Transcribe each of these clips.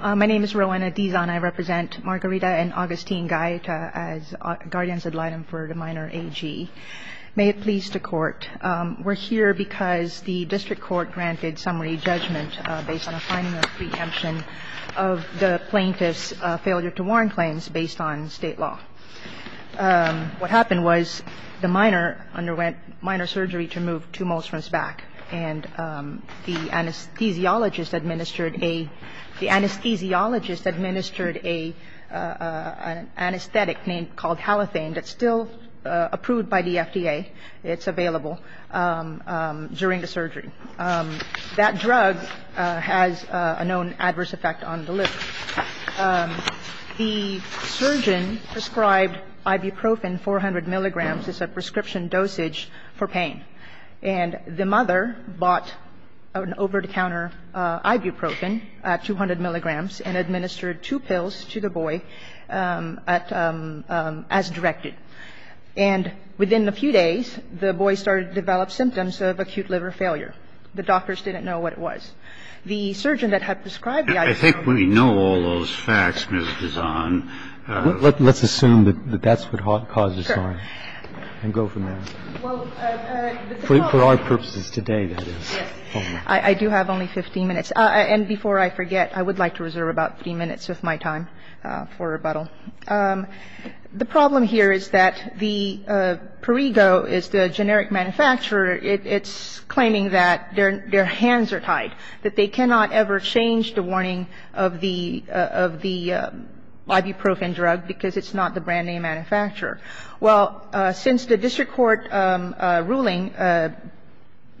My name is Rowena Dizon. I represent Margarita and Augustine Gaeta as guardians ad litem for the minor A.G. May it please the court, we're here because the district court granted summary judgment based on a finding of preemption of the plaintiff's failure to warrant claims based on state law. What happened was the minor underwent minor surgery to move two moles from his back and the anesthesiologist administered an anesthetic called halothane that's still approved by the FDA. It's available during the surgery. That drug has a known adverse effect on the liver. The surgeon prescribed ibuprofen 400 milligrams as a prescription dosage for pain. And the mother bought an over-the-counter ibuprofen at 200 milligrams and administered two pills to the boy at as directed. And within a few days, the boy started to develop symptoms of acute liver failure. The doctors didn't know what it was. The surgeon that had prescribed the ibuprofen. I think we know all those facts, Ms. Dizon. Let's assume that that's what caused his harm and go from there. For our purposes today, that is. I do have only 15 minutes. And before I forget, I would like to reserve about 15 minutes of my time for rebuttal. The problem here is that the Perrigo is the generic manufacturer. It's claiming that their hands are tied, that they cannot ever change the warning of the ibuprofen drug because it's not the brand-name manufacturer. Well, since the district court ruling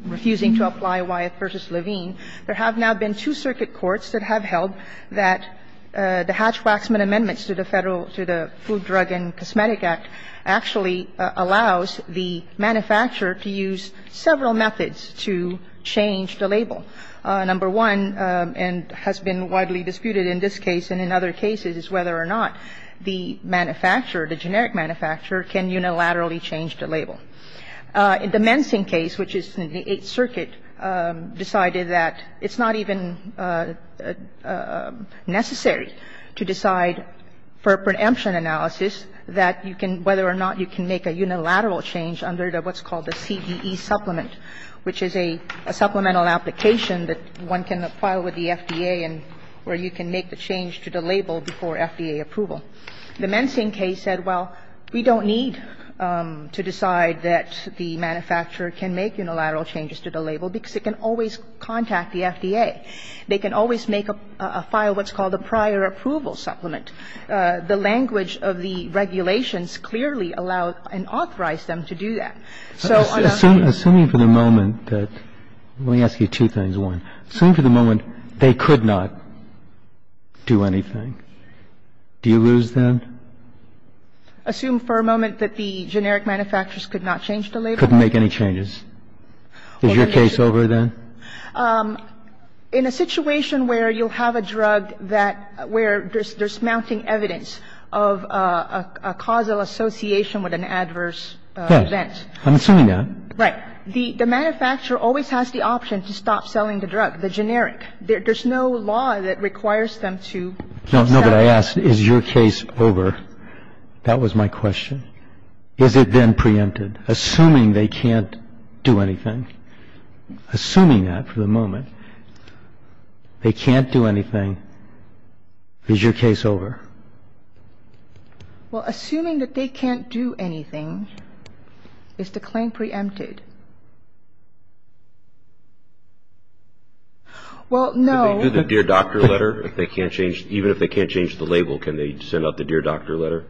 refusing to apply Wyeth v. Levine, there have now been two circuit courts that have held that the Hatch-Waxman amendments to the Federal to the Food, Drug, and Cosmetic Act actually allows the manufacturer to use several methods to change the label. Number one, and has been widely disputed in this case and in other cases, is whether or not the manufacturer, the generic manufacturer, can unilaterally change the label. The Mensing case, which is in the Eighth Circuit, decided that it's not even necessary to decide for a preemption analysis that you can, whether or not you can make a unilateral change under what's called a CEE supplement, which is a supplemental application that one can file with the FDA and where you can make the change to the label before FDA approval. The Mensing case said, well, we don't need to decide that the manufacturer can make unilateral changes to the label because it can always contact the FDA. They can always make a file what's called a prior approval supplement. The language of the regulations clearly allow and authorize them to do that. So on the other hand ---- Roberts, assuming for the moment that, let me ask you two things. One, assuming for the moment they could not do anything, do you lose them? Assume for a moment that the generic manufacturers could not change the label? Couldn't make any changes. Is your case over then? In a situation where you'll have a drug that, where there's mounting evidence of a causal association with an adverse event. I'm assuming that. Right. The manufacturer always has the option to stop selling the drug, the generic. There's no law that requires them to stop selling. No, but I ask, is your case over? That was my question. Is it then preempted, assuming they can't do anything? Assuming that for the moment, they can't do anything, is your case over? Well, assuming that they can't do anything, is the claim preempted? Well, no. Could they do the dear doctor letter if they can't change? Even if they can't change the label, can they send out the dear doctor letter?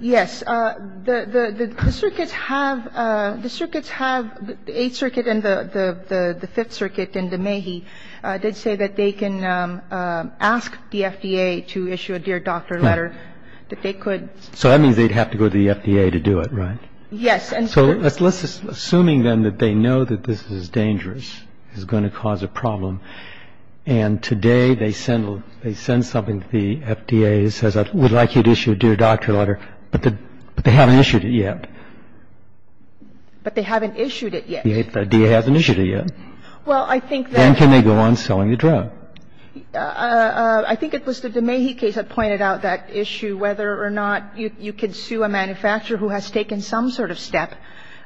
Yes. The circuits have, the circuits have, the Eighth Circuit and the Fifth Circuit did say that they can ask the FDA to issue a dear doctor letter, that they could. So that means they'd have to go to the FDA to do it, right? Yes. So let's just, assuming then that they know that this is dangerous, is going to cause a problem, and today they send, they send something to the FDA that says, I would like you to issue a dear doctor letter, but they haven't issued it yet. But they haven't issued it yet. The FDA hasn't issued it yet. Well, I think that Then can they go on selling the drug? I think it was the DeMahie case that pointed out that issue, whether or not you can sue a manufacturer who has taken some sort of step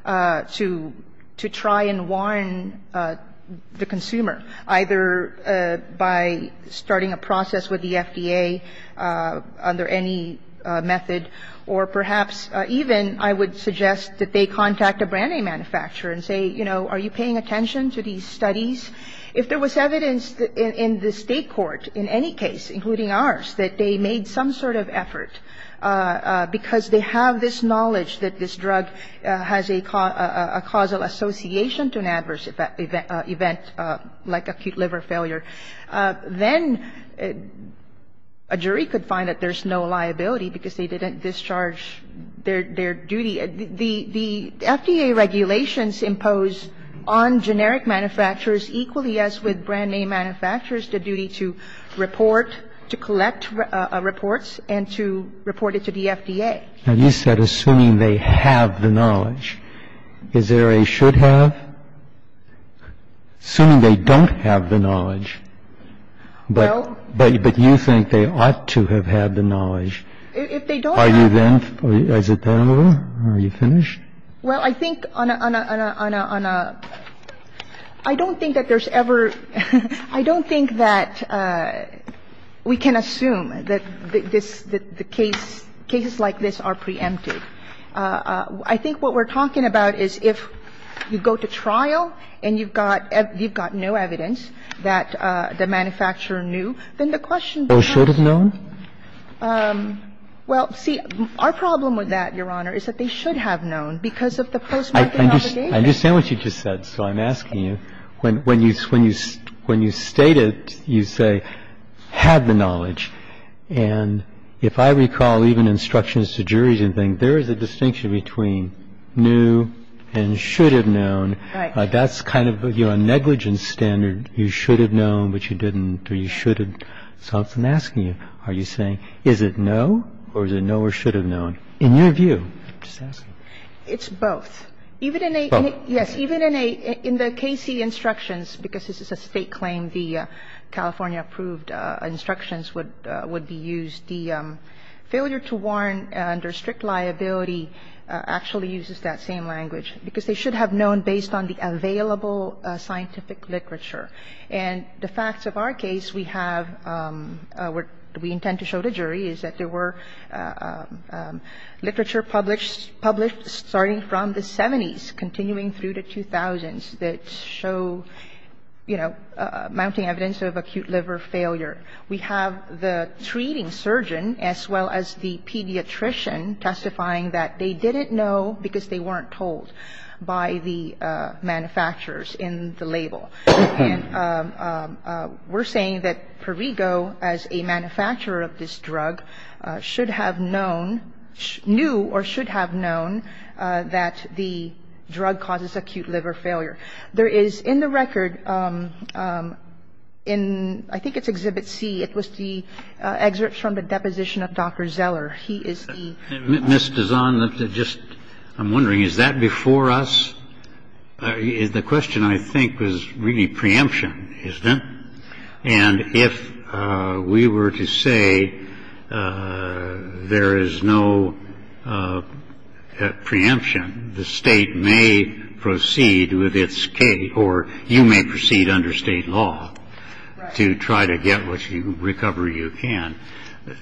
to try and warn the consumer, either by starting a process with the FDA under any method, or perhaps even I would suggest that they contact a brand name manufacturer and say, you know, are you paying attention to these studies? If there was evidence in the state court, in any case, including ours, that they made some sort of effort because they have this knowledge that this drug has a causal association to an adverse event like acute liver failure, then a jury could find that there's no liability because they didn't discharge their duty. The FDA regulations impose on generic manufacturers equally as with brand name manufacturers the duty to report, to collect reports, and to report it to the FDA. Now, you said assuming they have the knowledge. Is there a should have? Assuming they don't have the knowledge, but you think they ought to have had the knowledge, are you then, as a tenor, are you finished? Well, I think on a, on a, on a, on a, I don't think that there's ever, I don't think that we can assume that this, that the case, cases like this are preempted. I think what we're talking about is if you go to trial and you've got, you've got no evidence that the manufacturer knew, then the question becomes. So should have known? Well, see, our problem with that, Your Honor, is that they should have known because of the postmortem obligation. I understand what you just said, so I'm asking you. When, when you, when you, when you state it, you say had the knowledge. And if I recall even instructions to juries and things, there is a distinction between knew and should have known. Right. That's kind of, you know, a negligence standard. You should have known, but you didn't. You shouldn't. So I'm asking you, are you saying is it no or is it no or should have known? In your view, just ask me. It's both. Even in a, yes, even in a, in the KC instructions, because this is a State claim, the California-approved instructions would, would be used. The failure to warn under strict liability actually uses that same language, because they should have known based on the available scientific literature. And the facts of our case, we have, what we intend to show the jury is that there were literature published, published starting from the 70s, continuing through the 2000s that show, you know, mounting evidence of acute liver failure. We have the treating surgeon as well as the pediatrician testifying that they didn't know because they weren't told by the manufacturers in the label. And we're saying that Perrigo, as a manufacturer of this drug, should have known, knew or should have known that the drug causes acute liver failure. There is in the record, in I think it's Exhibit C, it was the excerpts from the deposition of Dr. Zeller. He is the. Kennedy. Ms. Dazon, just, I'm wondering, is that before us? The question, I think, was really preemption, isn't it? And if we were to say there is no preemption, the state may proceed with its case or you may proceed under state law to try to get what you recover you can.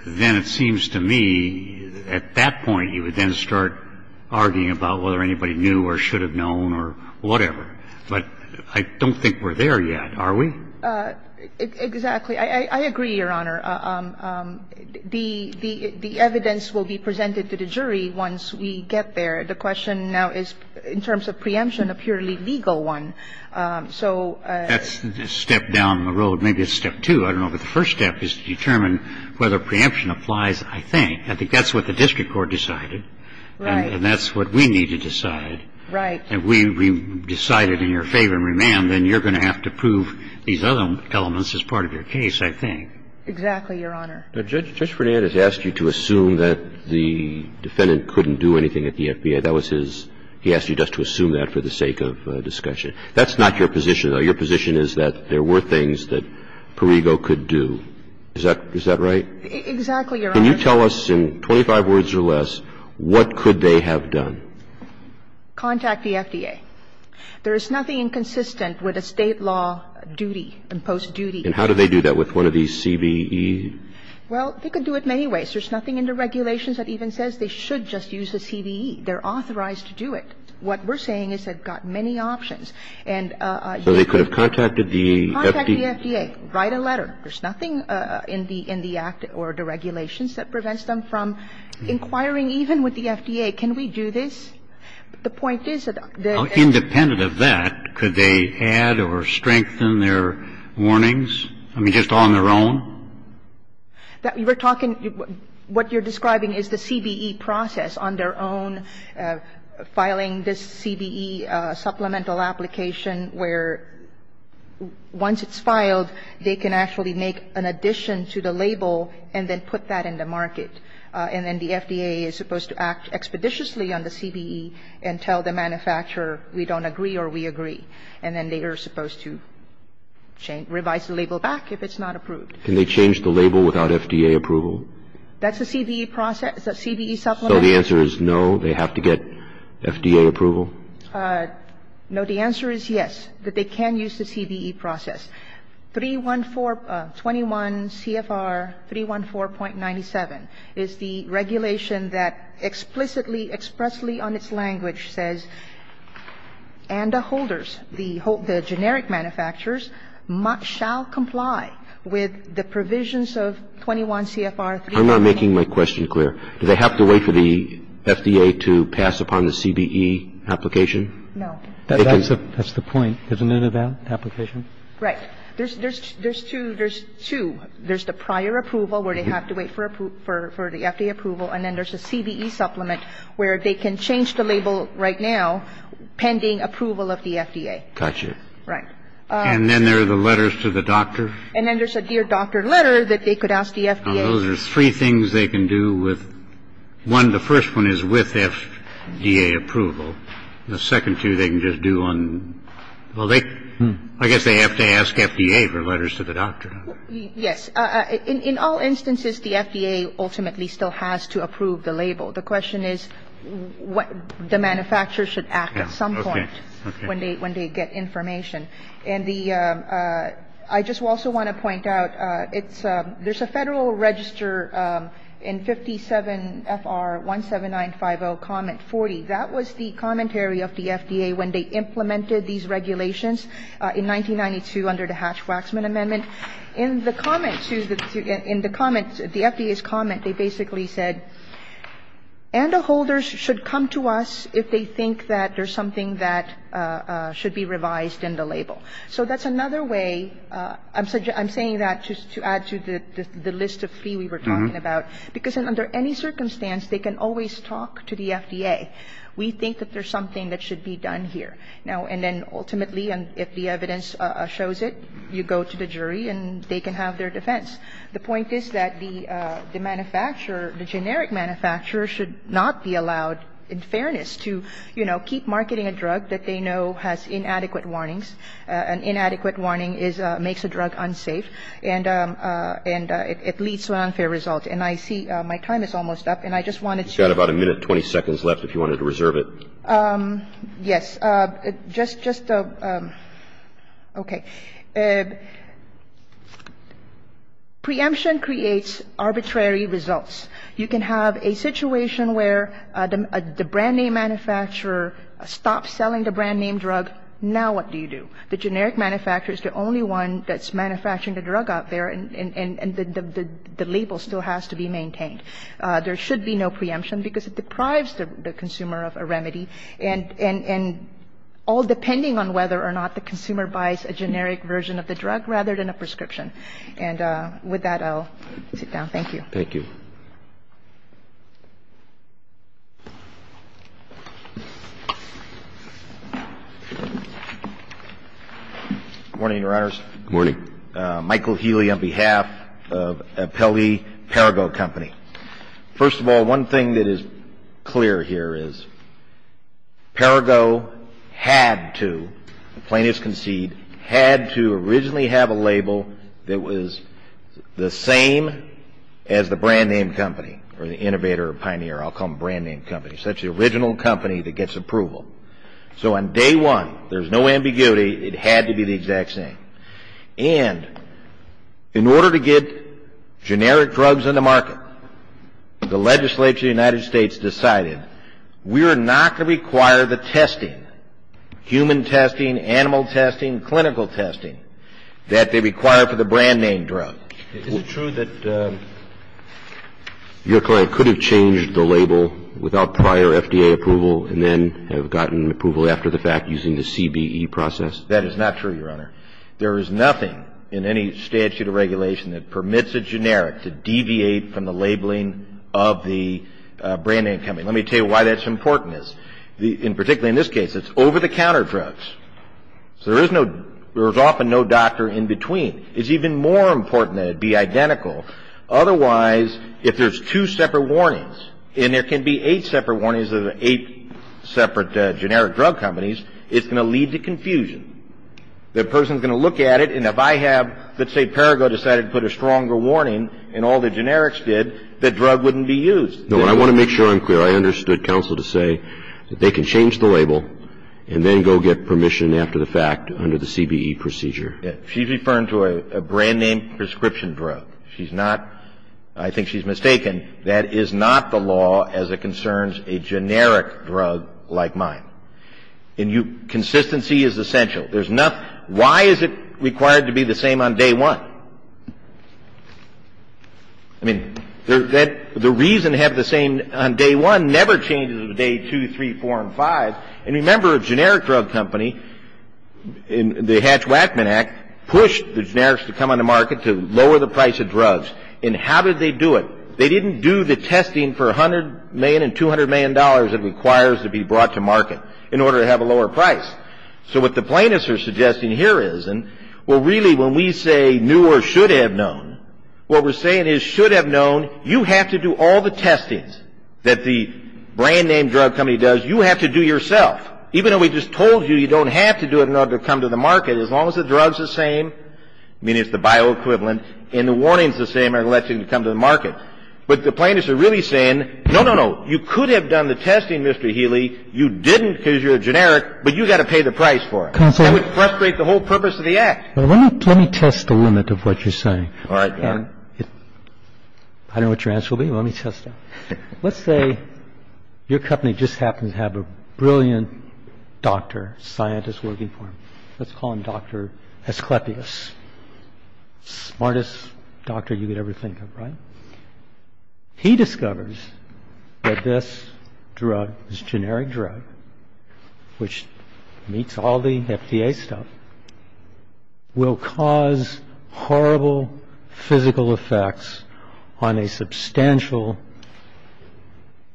Then it seems to me at that point you would then start arguing about whether anybody knew or should have known or whatever. But I don't think we're there yet, are we? Exactly. I agree, Your Honor. The evidence will be presented to the jury once we get there. The question now is in terms of preemption, a purely legal one. So. That's a step down the road. Maybe it's step two. I don't know. But the first step is to determine whether preemption applies, I think. I think that's what the district court decided. Right. And that's what we need to decide. Right. And if we decide it in your favor and remand, then you're going to have to prove these other elements as part of your case, I think. Exactly, Your Honor. Judge Fernandez asked you to assume that the defendant couldn't do anything at the FBI. That was his – he asked you just to assume that for the sake of discussion. That's not your position, though. Your position is that there were things that Parego could do. Is that right? Exactly, Your Honor. Can you tell us in 25 words or less what could they have done? Contact the FDA. There is nothing inconsistent with a State law duty, imposed duty. And how do they do that? With one of these CVE? Well, they could do it many ways. There's nothing in the regulations that even says they should just use a CVE. They're authorized to do it. What we're saying is they've got many options. So they could have contacted the FDA? Contact the FDA. Write a letter. There's nothing in the Act or the regulations that prevents them from inquiring, even with the FDA, can we do this? The point is that the – Independent of that, could they add or strengthen their warnings? I mean, just on their own? We're talking – what you're describing is the CVE process on their own, filing this CVE supplemental application where, once it's filed, they can actually make an addition to the label and then put that in the market. And then the FDA is supposed to act expeditiously on the CVE and tell the manufacturer we don't agree or we agree. And then they are supposed to revise the label back if it's not approved. Can they change the label without FDA approval? That's a CVE process, a CVE supplemental? So the answer is no. They have to get FDA approval? No. The answer is yes, that they can use the CVE process. 314 – 21 CFR 314.97 is the regulation that explicitly, expressly on its language says, and the holders, the generic manufacturers shall comply with the provisions of 21 CFR 314. I'm not making my question clear. Do they have to wait for the FDA to pass upon the CVE application? No. That's the point, isn't it, of that application? Right. There's two. There's two. There's the prior approval where they have to wait for the FDA approval. And then there's a CVE supplement where they can change the label right now pending approval of the FDA. Gotcha. Right. And then there are the letters to the doctor. And then there's a dear doctor letter that they could ask the FDA. Those are three things they can do with one. The first one is with FDA approval. The second two they can just do on, well, they, I guess they have to ask FDA for letters to the doctor. Yes. In all instances, the FDA ultimately still has to approve the label. The question is what the manufacturers should act at some point when they get information. And the, I just also want to point out, it's, there's a federal register in 57 FR 17950 comment 40. That was the commentary of the FDA when they implemented these regulations in 1992 under the Hatch-Waxman Amendment. In the comments, in the comments, the FDA's comment, they basically said, and the holders should come to us if they think that there's something that should be revised in the label. So that's another way, I'm saying that just to add to the list of three we were talking about. Because under any circumstance, they can always talk to the FDA. We think that there's something that should be done here. Now, and then ultimately, if the evidence shows it, you go to the jury and they can have their defense. The point is that the manufacturer, the generic manufacturer should not be allowed, in fairness, to, you know, keep marketing a drug that they know has inadequate warnings. An inadequate warning is, makes a drug unsafe. And it leads to an unfair result. And I see my time is almost up. And I just wanted to. You've got about a minute and 20 seconds left if you wanted to reserve it. Yes. Just, just, okay. Preemption creates arbitrary results. You can have a situation where the brand name manufacturer stops selling the brand name drug. Now what do you do? The generic manufacturer is the only one that's manufacturing the drug out there and the label still has to be maintained. There should be no preemption because it deprives the consumer of a remedy. And all depending on whether or not the consumer buys a generic version of the drug rather than a prescription. And with that, I'll sit down. Thank you. Good morning, Your Honors. Good morning. Michael Healy on behalf of Appellee Parago Company. First of all, one thing that is clear here is Parago had to, the plaintiffs concede, had to originally have a label that was the same as the brand name company or the innovator or pioneer. I'll call them brand name companies. That's the original company that gets approval. So on day one, there's no ambiguity. It had to be the exact same. And in order to get generic drugs on the market, the legislature of the United States decided we are not going to require the testing, human testing, animal testing, clinical testing, that they require for the brand name drug. Is it true that your client could have changed the label without prior FDA approval and then have gotten approval after the fact using the CBE process? That is not true, Your Honor. There is nothing in any statute of regulation that permits a generic to deviate from the labeling of the brand name company. Let me tell you why that's important. Particularly in this case, it's over-the-counter drugs. So there is often no doctor in between. It's even more important that it be identical. Otherwise, if there's two separate warnings, and there can be eight separate warnings of eight separate generic drug companies, it's going to lead to confusion. The person is going to look at it, and if I have, let's say Parago decided to put a stronger warning and all the generics did, the drug wouldn't be used. No, I want to make sure I'm clear. I understood counsel to say that they can change the label and then go get permission after the fact under the CBE procedure. She's referring to a brand name prescription drug. She's not – I think she's mistaken. That is not the law as it concerns a generic drug like mine. Consistency is essential. There's nothing – why is it required to be the same on day one? I mean, the reason to have the same on day one never changes on day two, three, four, and five. And remember, a generic drug company in the Hatch-Wackman Act pushed the generics to come on the market to lower the price of drugs. And how did they do it? They didn't do the testing for $100 million and $200 million it requires to be brought to market in order to have a lower price. So what the plaintiffs are suggesting here is – and, well, really, when we say knew or should have known, what we're saying is should have known you have to do all the testings that the brand name drug company does. You have to do yourself. Even though we just told you you don't have to do it in order to come to the market, as long as the drug's the same, meaning it's the bioequivalent, and the warning's the same, it'll let you come to the market. But the plaintiffs are really saying, no, no, no, you could have done the testing, Mr. Healy. You didn't because you're a generic, but you've got to pay the price for it. That would frustrate the whole purpose of the Act. Let me test the limit of what you're saying. All right. I don't know what your answer will be, but let me test it. Let's say your company just happens to have a brilliant doctor, scientist working for them. Let's call him Dr. Asclepius, smartest doctor you could ever think of, right? He discovers that this drug, this generic drug, which meets all the FDA stuff, will cause horrible physical effects on a substantial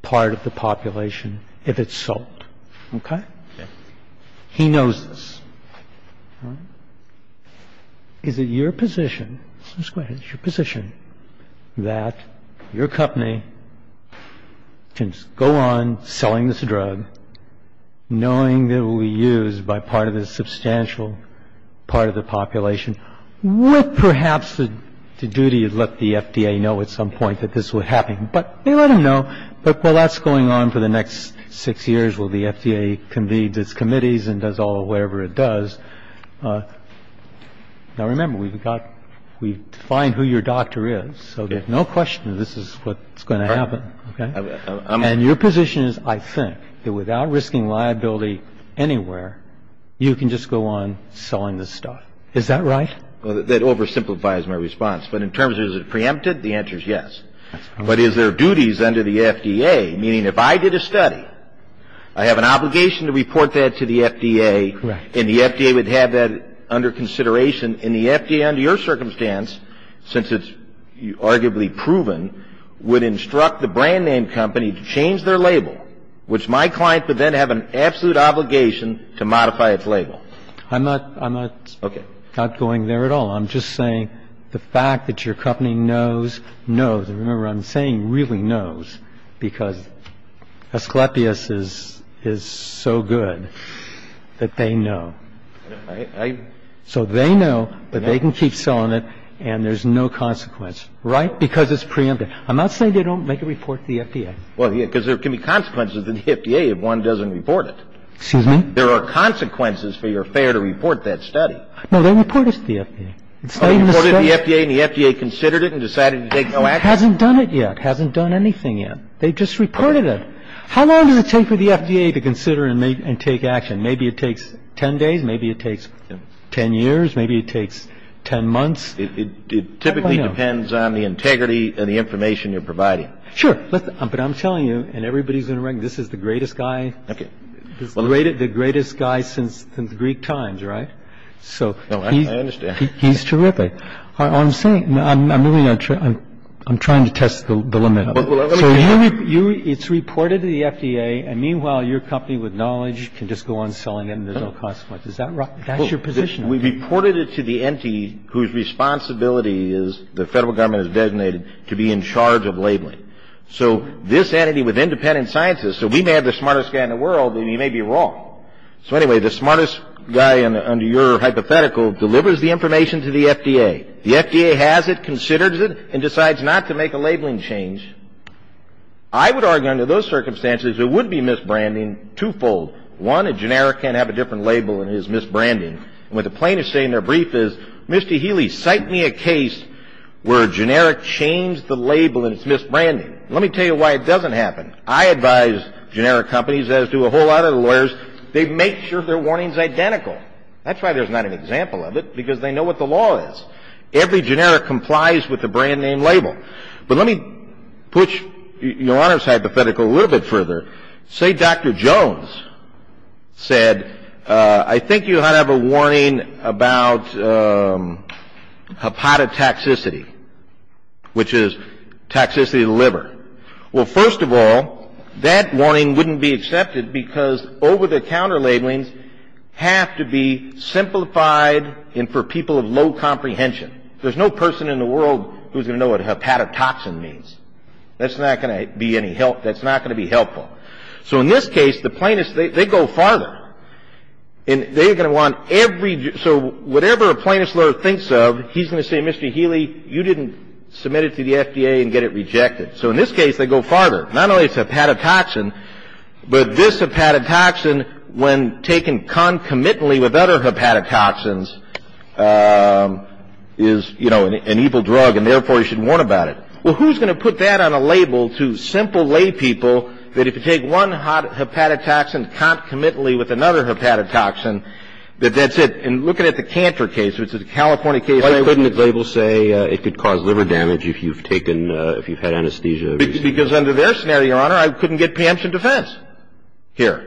part of the population if it's sold. Okay? He knows this. All right. Is it your position, Ms. Gwynne, is it your position that your company can go on selling this drug, knowing that it will be used by part of the substantial part of the population, with perhaps the duty to let the FDA know at some point that this would happen? But they let him know. But while that's going on for the next six years while the FDA convenes its committees and does all the whatever it does, now, remember, we've got to find who your doctor is. So there's no question that this is what's going to happen. And your position is, I think, that without risking liability anywhere, you can just go on selling this stuff. Is that right? Well, that oversimplifies my response. But in terms of is it preempted, the answer is yes. But is there duties under the FDA, meaning if I did a study, I have an obligation to report that to the FDA. Correct. And the FDA would have that under consideration. And the FDA, under your circumstance, since it's arguably proven, would instruct the brand-name company to change their label, which my client would then have an absolute obligation to modify its label. I'm not going there at all. I'm just saying the fact that your company knows, knows. I'm just saying that the FDA, as I remember I'm saying, really knows because Asclepius is so good that they know. So they know that they can keep selling it and there's no consequence. Right? Because it's preempted. I'm not saying they don't make a report to the FDA. Well, yes, because there can be consequences to the FDA if one doesn't report it. Excuse me? There are consequences for your failure to report that study. No, they reported it to the FDA. Oh, they reported it to the FDA and the FDA considered it and decided to take no action? It hasn't done it yet. It hasn't done anything yet. They've just reported it. How long does it take for the FDA to consider and take action? Maybe it takes 10 days. Maybe it takes 10 years. Maybe it takes 10 months. It typically depends on the integrity and the information you're providing. Sure. But I'm telling you, and everybody's going to recognize, this is the greatest guy. Okay. He's the greatest guy since the Greek times, right? No, I understand. He's terrific. All I'm saying, I'm trying to test the limit of it. It's reported to the FDA, and meanwhile, your company with knowledge can just go on selling it and there's no consequence. Is that right? That's your position. We reported it to the entity whose responsibility is the Federal Government has designated to be in charge of labeling. So this entity with independent sciences, so we may have the smartest guy in the world, and you may be wrong. So anyway, the smartest guy under your hypothetical delivers the information to the FDA. The FDA has it, considers it, and decides not to make a labeling change. I would argue under those circumstances, it would be misbranding twofold. One, a generic can't have a different label, and it is misbranding. And what the plaintiffs say in their brief is, Mr. Healy, cite me a case where a generic changed the label and it's misbranding. Let me tell you why it doesn't happen. I advise generic companies, as do a whole lot of the lawyers, they make sure their warning's identical. That's why there's not an example of it, because they know what the law is. Every generic complies with the brand name label. But let me push your Honor's hypothetical a little bit further. Say Dr. Jones said, I think you ought to have a warning about hepatotoxicity, which is toxicity of the liver. Well, first of all, that warning wouldn't be accepted because over-the-counter labelings have to be simplified and for people of low comprehension. There's no person in the world who's going to know what hepatotoxin means. That's not going to be any help. That's not going to be helpful. So in this case, the plaintiffs, they go farther. And they're going to want every, so whatever a plaintiff's lawyer thinks of, he's going to say, Mr. Healy, you didn't submit it to the FDA and get it rejected. So in this case, they go farther. Not only is hepatotoxin, but this hepatotoxin, when taken concomitantly with other hepatotoxins, is, you know, an evil drug, and therefore you should warn about it. Well, who's going to put that on a label to simple laypeople that if you take one hepatotoxin concomitantly with another hepatotoxin, that that's it? And looking at the Cantor case, which is a California case, I couldn't. Why wouldn't the label say it could cause liver damage if you've taken, if you've had anesthesia? Because under their scenario, Your Honor, I couldn't get preemption defense here.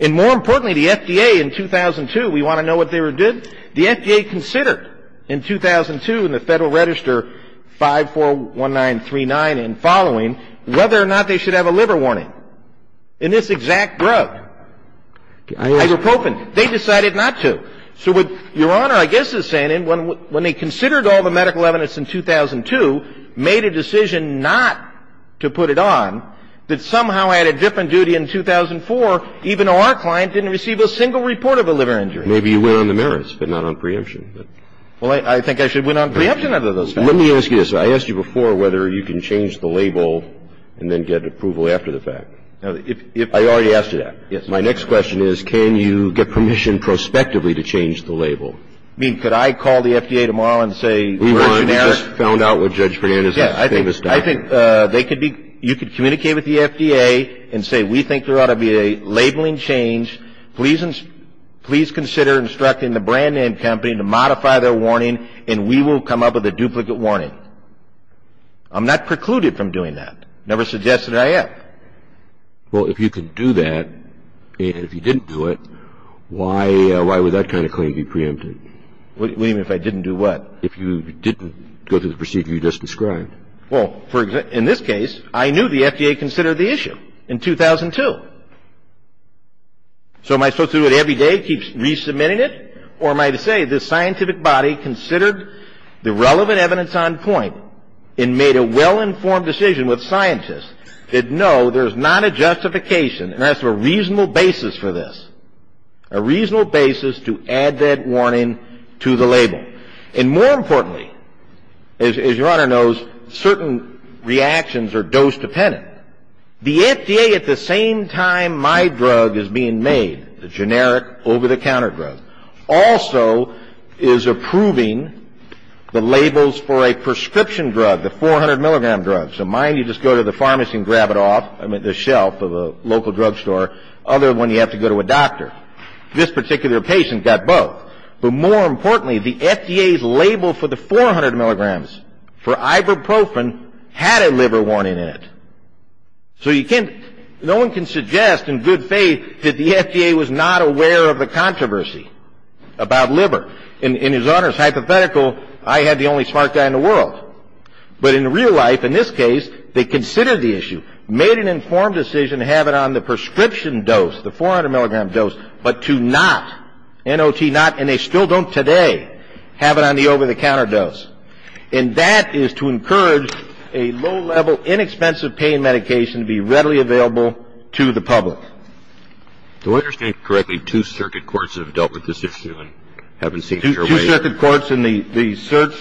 And more importantly, the FDA in 2002, we want to know what they did. The FDA considered in 2002 in the Federal Register 541939 and following whether or not they should have a liver warning in this exact drug, ibuprofen. They decided not to. So what Your Honor, I guess, is saying, when they considered all the medical evidence in 2002, made a decision not to put it on, that somehow had a different duty in 2004, even though our client didn't receive a single report of a liver injury. It's a different drug. And so I don't think there's an obligation. Maybe you went on the merits but not on preemption. Well, I think I should have went on preemption out of those guys. Let me ask you this. I asked you before whether you can change the label and then get approval after the fact. If you... I already asked you that. Yes, sir. ...please consider instructing the brand name company to modify their warning and we will come up with a duplicate warning. I'm not precluded from doing that. Never suggested I am. Well, if you can do that and if you didn't do it, why would that kind of claim be preempted? What do you mean if I didn't do what? If you didn't go through the procedure you just described. Well, in this case, I knew the FDA considered the issue in 2002. So am I supposed to do it every day, keep resubmitting it? Or am I to say the scientific body considered the relevant evidence on point and made a well-informed decision with scientists that no, there's not a justification and that's a reasonable basis for this. A reasonable basis to add that warning to the label. And more importantly, as Your Honor knows, certain reactions are dose dependent. The FDA at the same time my drug is being made, the generic over-the-counter drug, also is approving the labels for a prescription drug, the 400 milligram drug. So mine, you just go to the pharmacy and grab it off the shelf of a local drug store. Other one, you have to go to a doctor. This particular patient got both. But more importantly, the FDA's label for the 400 milligrams, for ibuprofen, had a liver warning in it. So you can't, no one can suggest in good faith that the FDA was not aware of the controversy about liver. In His Honor's hypothetical, I had the only smart guy in the world. But in real life, in this case, they considered the issue, made an informed decision to have it on the prescription dose, the 400 milligram dose, but to not, N.O.T. not, and they still don't today, have it on the over-the-counter dose. And that is to encourage a low-level, inexpensive pain medication to be readily available to the public. Do I understand correctly two circuit courts have dealt with this issue and haven't seen sure way? Two circuit courts in the search.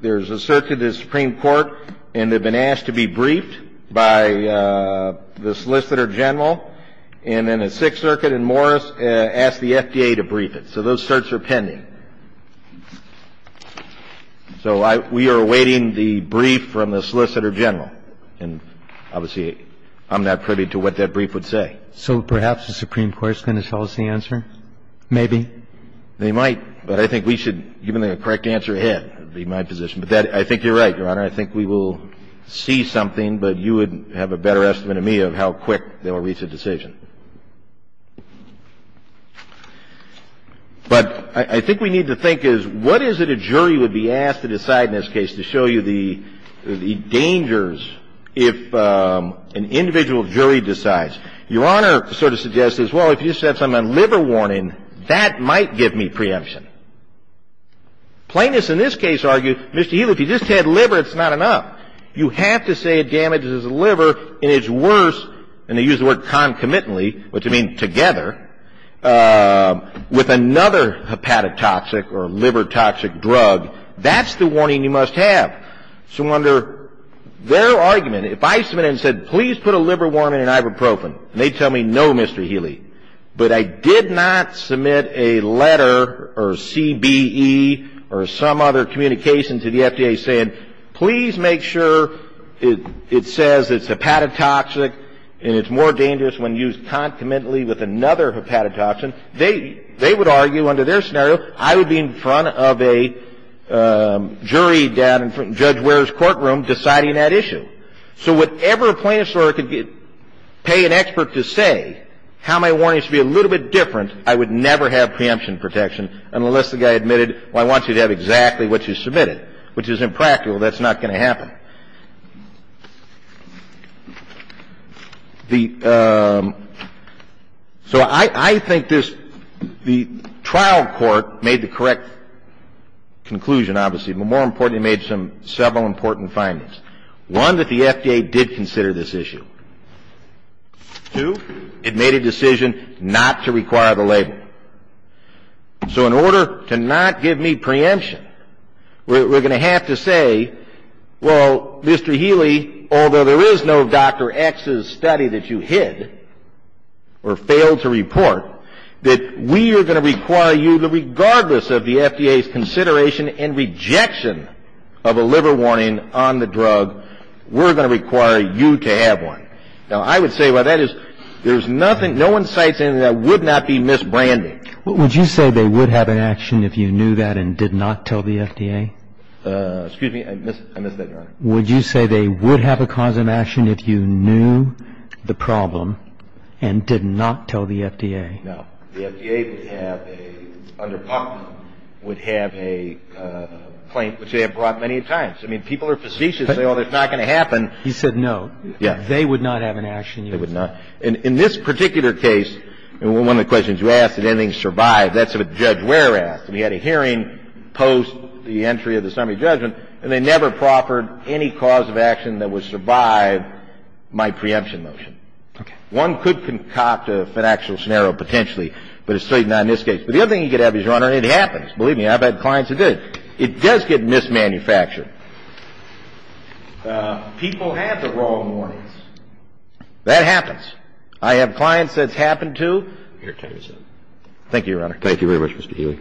There's a circuit in the Supreme Court, and they've been asked to be briefed by the Solicitor General. And then the Sixth Circuit in Morris asked the FDA to brief it. So those certs are pending. So we are awaiting the brief from the Solicitor General. And obviously, I'm not privy to what that brief would say. So perhaps the Supreme Court is going to show us the answer? Maybe. They might. But I think we should, given the correct answer, head. That would be my position. But I think you're right, Your Honor. I think we will see something, but you would have a better estimate of me of how quick they will reach a decision. But I think we need to think is, what is it a jury would be asked to decide in this case to show you the dangers if an individual jury decides? Your Honor sort of suggests this. Well, if you said something on liver warning, that might give me preemption. Plaintiffs in this case argue, Mr. Healy, if you just had liver, it's not enough. You have to say it damages the liver, and it's worse, and they use the word concomitantly, which would mean together, with another hepatic toxic or liver toxic drug. That's the warning you must have. So under their argument, if I submitted and said, please put a liver warning and ibuprofen, and they tell me, no, Mr. Healy, but I did not submit a letter or CBE or some other communication to the FDA saying, please make sure it says it's hepatic toxic and it's more dangerous when used concomitantly with another hepatic toxin, they would argue under their scenario, I would be in front of a jury down in Judge Ware's courtroom deciding that issue. So whatever plaintiff's lawyer could pay an expert to say how my warning should be a little bit different, I would never have preemption protection unless the guy admitted, well, I want you to have exactly what you submitted, which is impractical. That's not going to happen. The – so I think this – the trial court made the correct conclusion, obviously. But more importantly, it made several important findings. One, that the FDA did consider this issue. Two, it made a decision not to require the label. So in order to not give me preemption, we're going to have to say, well, Mr. Healy, although there is no Dr. X's study that you hid or failed to report, that we are going to require you, regardless of the FDA's consideration and rejection of a liver warning on the drug, we're going to require you to have one. Now, I would say, well, that is – there's nothing – no one cites anything that would not be misbranded. Would you say they would have an action if you knew that and did not tell the FDA? Excuse me, I missed that, Your Honor. Would you say they would have a cause of action if you knew the problem and did not tell the FDA? No. The FDA would have a – under PUCMA would have a claim, which they have brought many times. I mean, people are facetious. They say, oh, that's not going to happen. He said no. Yes. They would not have an action. They would not. In this particular case, and one of the questions you asked, did anything survive, that's what Judge Ware asked. We had a hearing post the entry of the summary judgment, and they never proffered any cause of action that would survive my preemption motion. Okay. Now, if you look at this case, it's a case of mismanufacturing. One could concoct a financial scenario potentially, but it's certainly not in this case. But the other thing you could have is, Your Honor, it happens. Believe me, I've had clients who did. It does get mismanufactured. People have the wrong warnings. That happens. I have clients that it's happened to. Your time is up. Thank you, Your Honor. Thank you very much, Mr. Healy.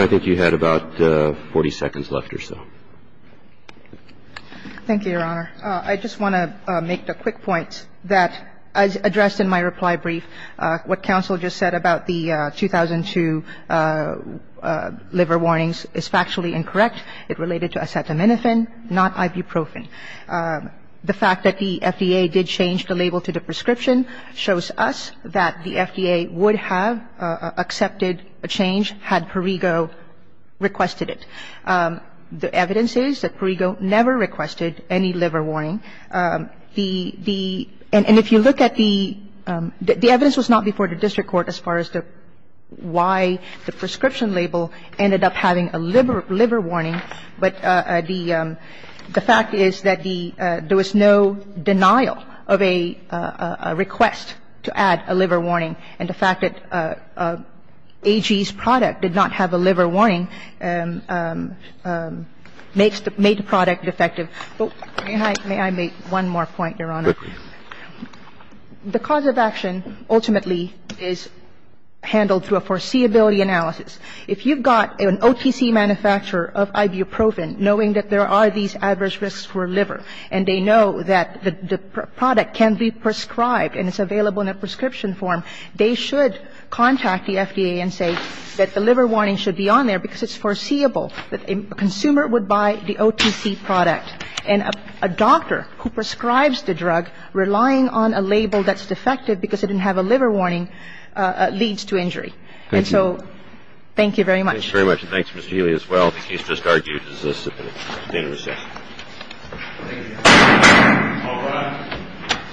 I think you had about 40 seconds left or so. Thank you, Your Honor. I just want to make a quick point that, as addressed in my reply brief, what counsel just said about the 2002 liver warnings is factually incorrect. It related to acetaminophen, not ibuprofen. The fact that the FDA did change the label to the prescription shows us that the FDA would have accepted a change had Perrigo requested it. The evidence is that Perrigo never requested any liver warning. The ‑‑ and if you look at the ‑‑ the evidence was not before the district court as far as why the prescription label ended up having a liver warning, but the fact is that the ‑‑ there was no denial of a request to add a liver warning. And the fact that AG's product did not have a liver warning makes the ‑‑ made the product defective. May I make one more point, Your Honor? Quickly. The cause of action ultimately is handled through a foreseeability analysis. If you've got an OTC manufacturer of ibuprofen knowing that there are these adverse risks for liver and they know that the product can be prescribed and it's available in a prescription form, they should contact the FDA and say that the liver warning should be on there because it's foreseeable that a consumer would buy the OTC product. And a doctor who prescribes the drug, relying on a label that's defective because it didn't have a liver warning, leads to injury. And so thank you very much. Thank you very much. And thanks, Ms. Healy, as well. The case just argued is a substantive assessment. Thank you. All rise.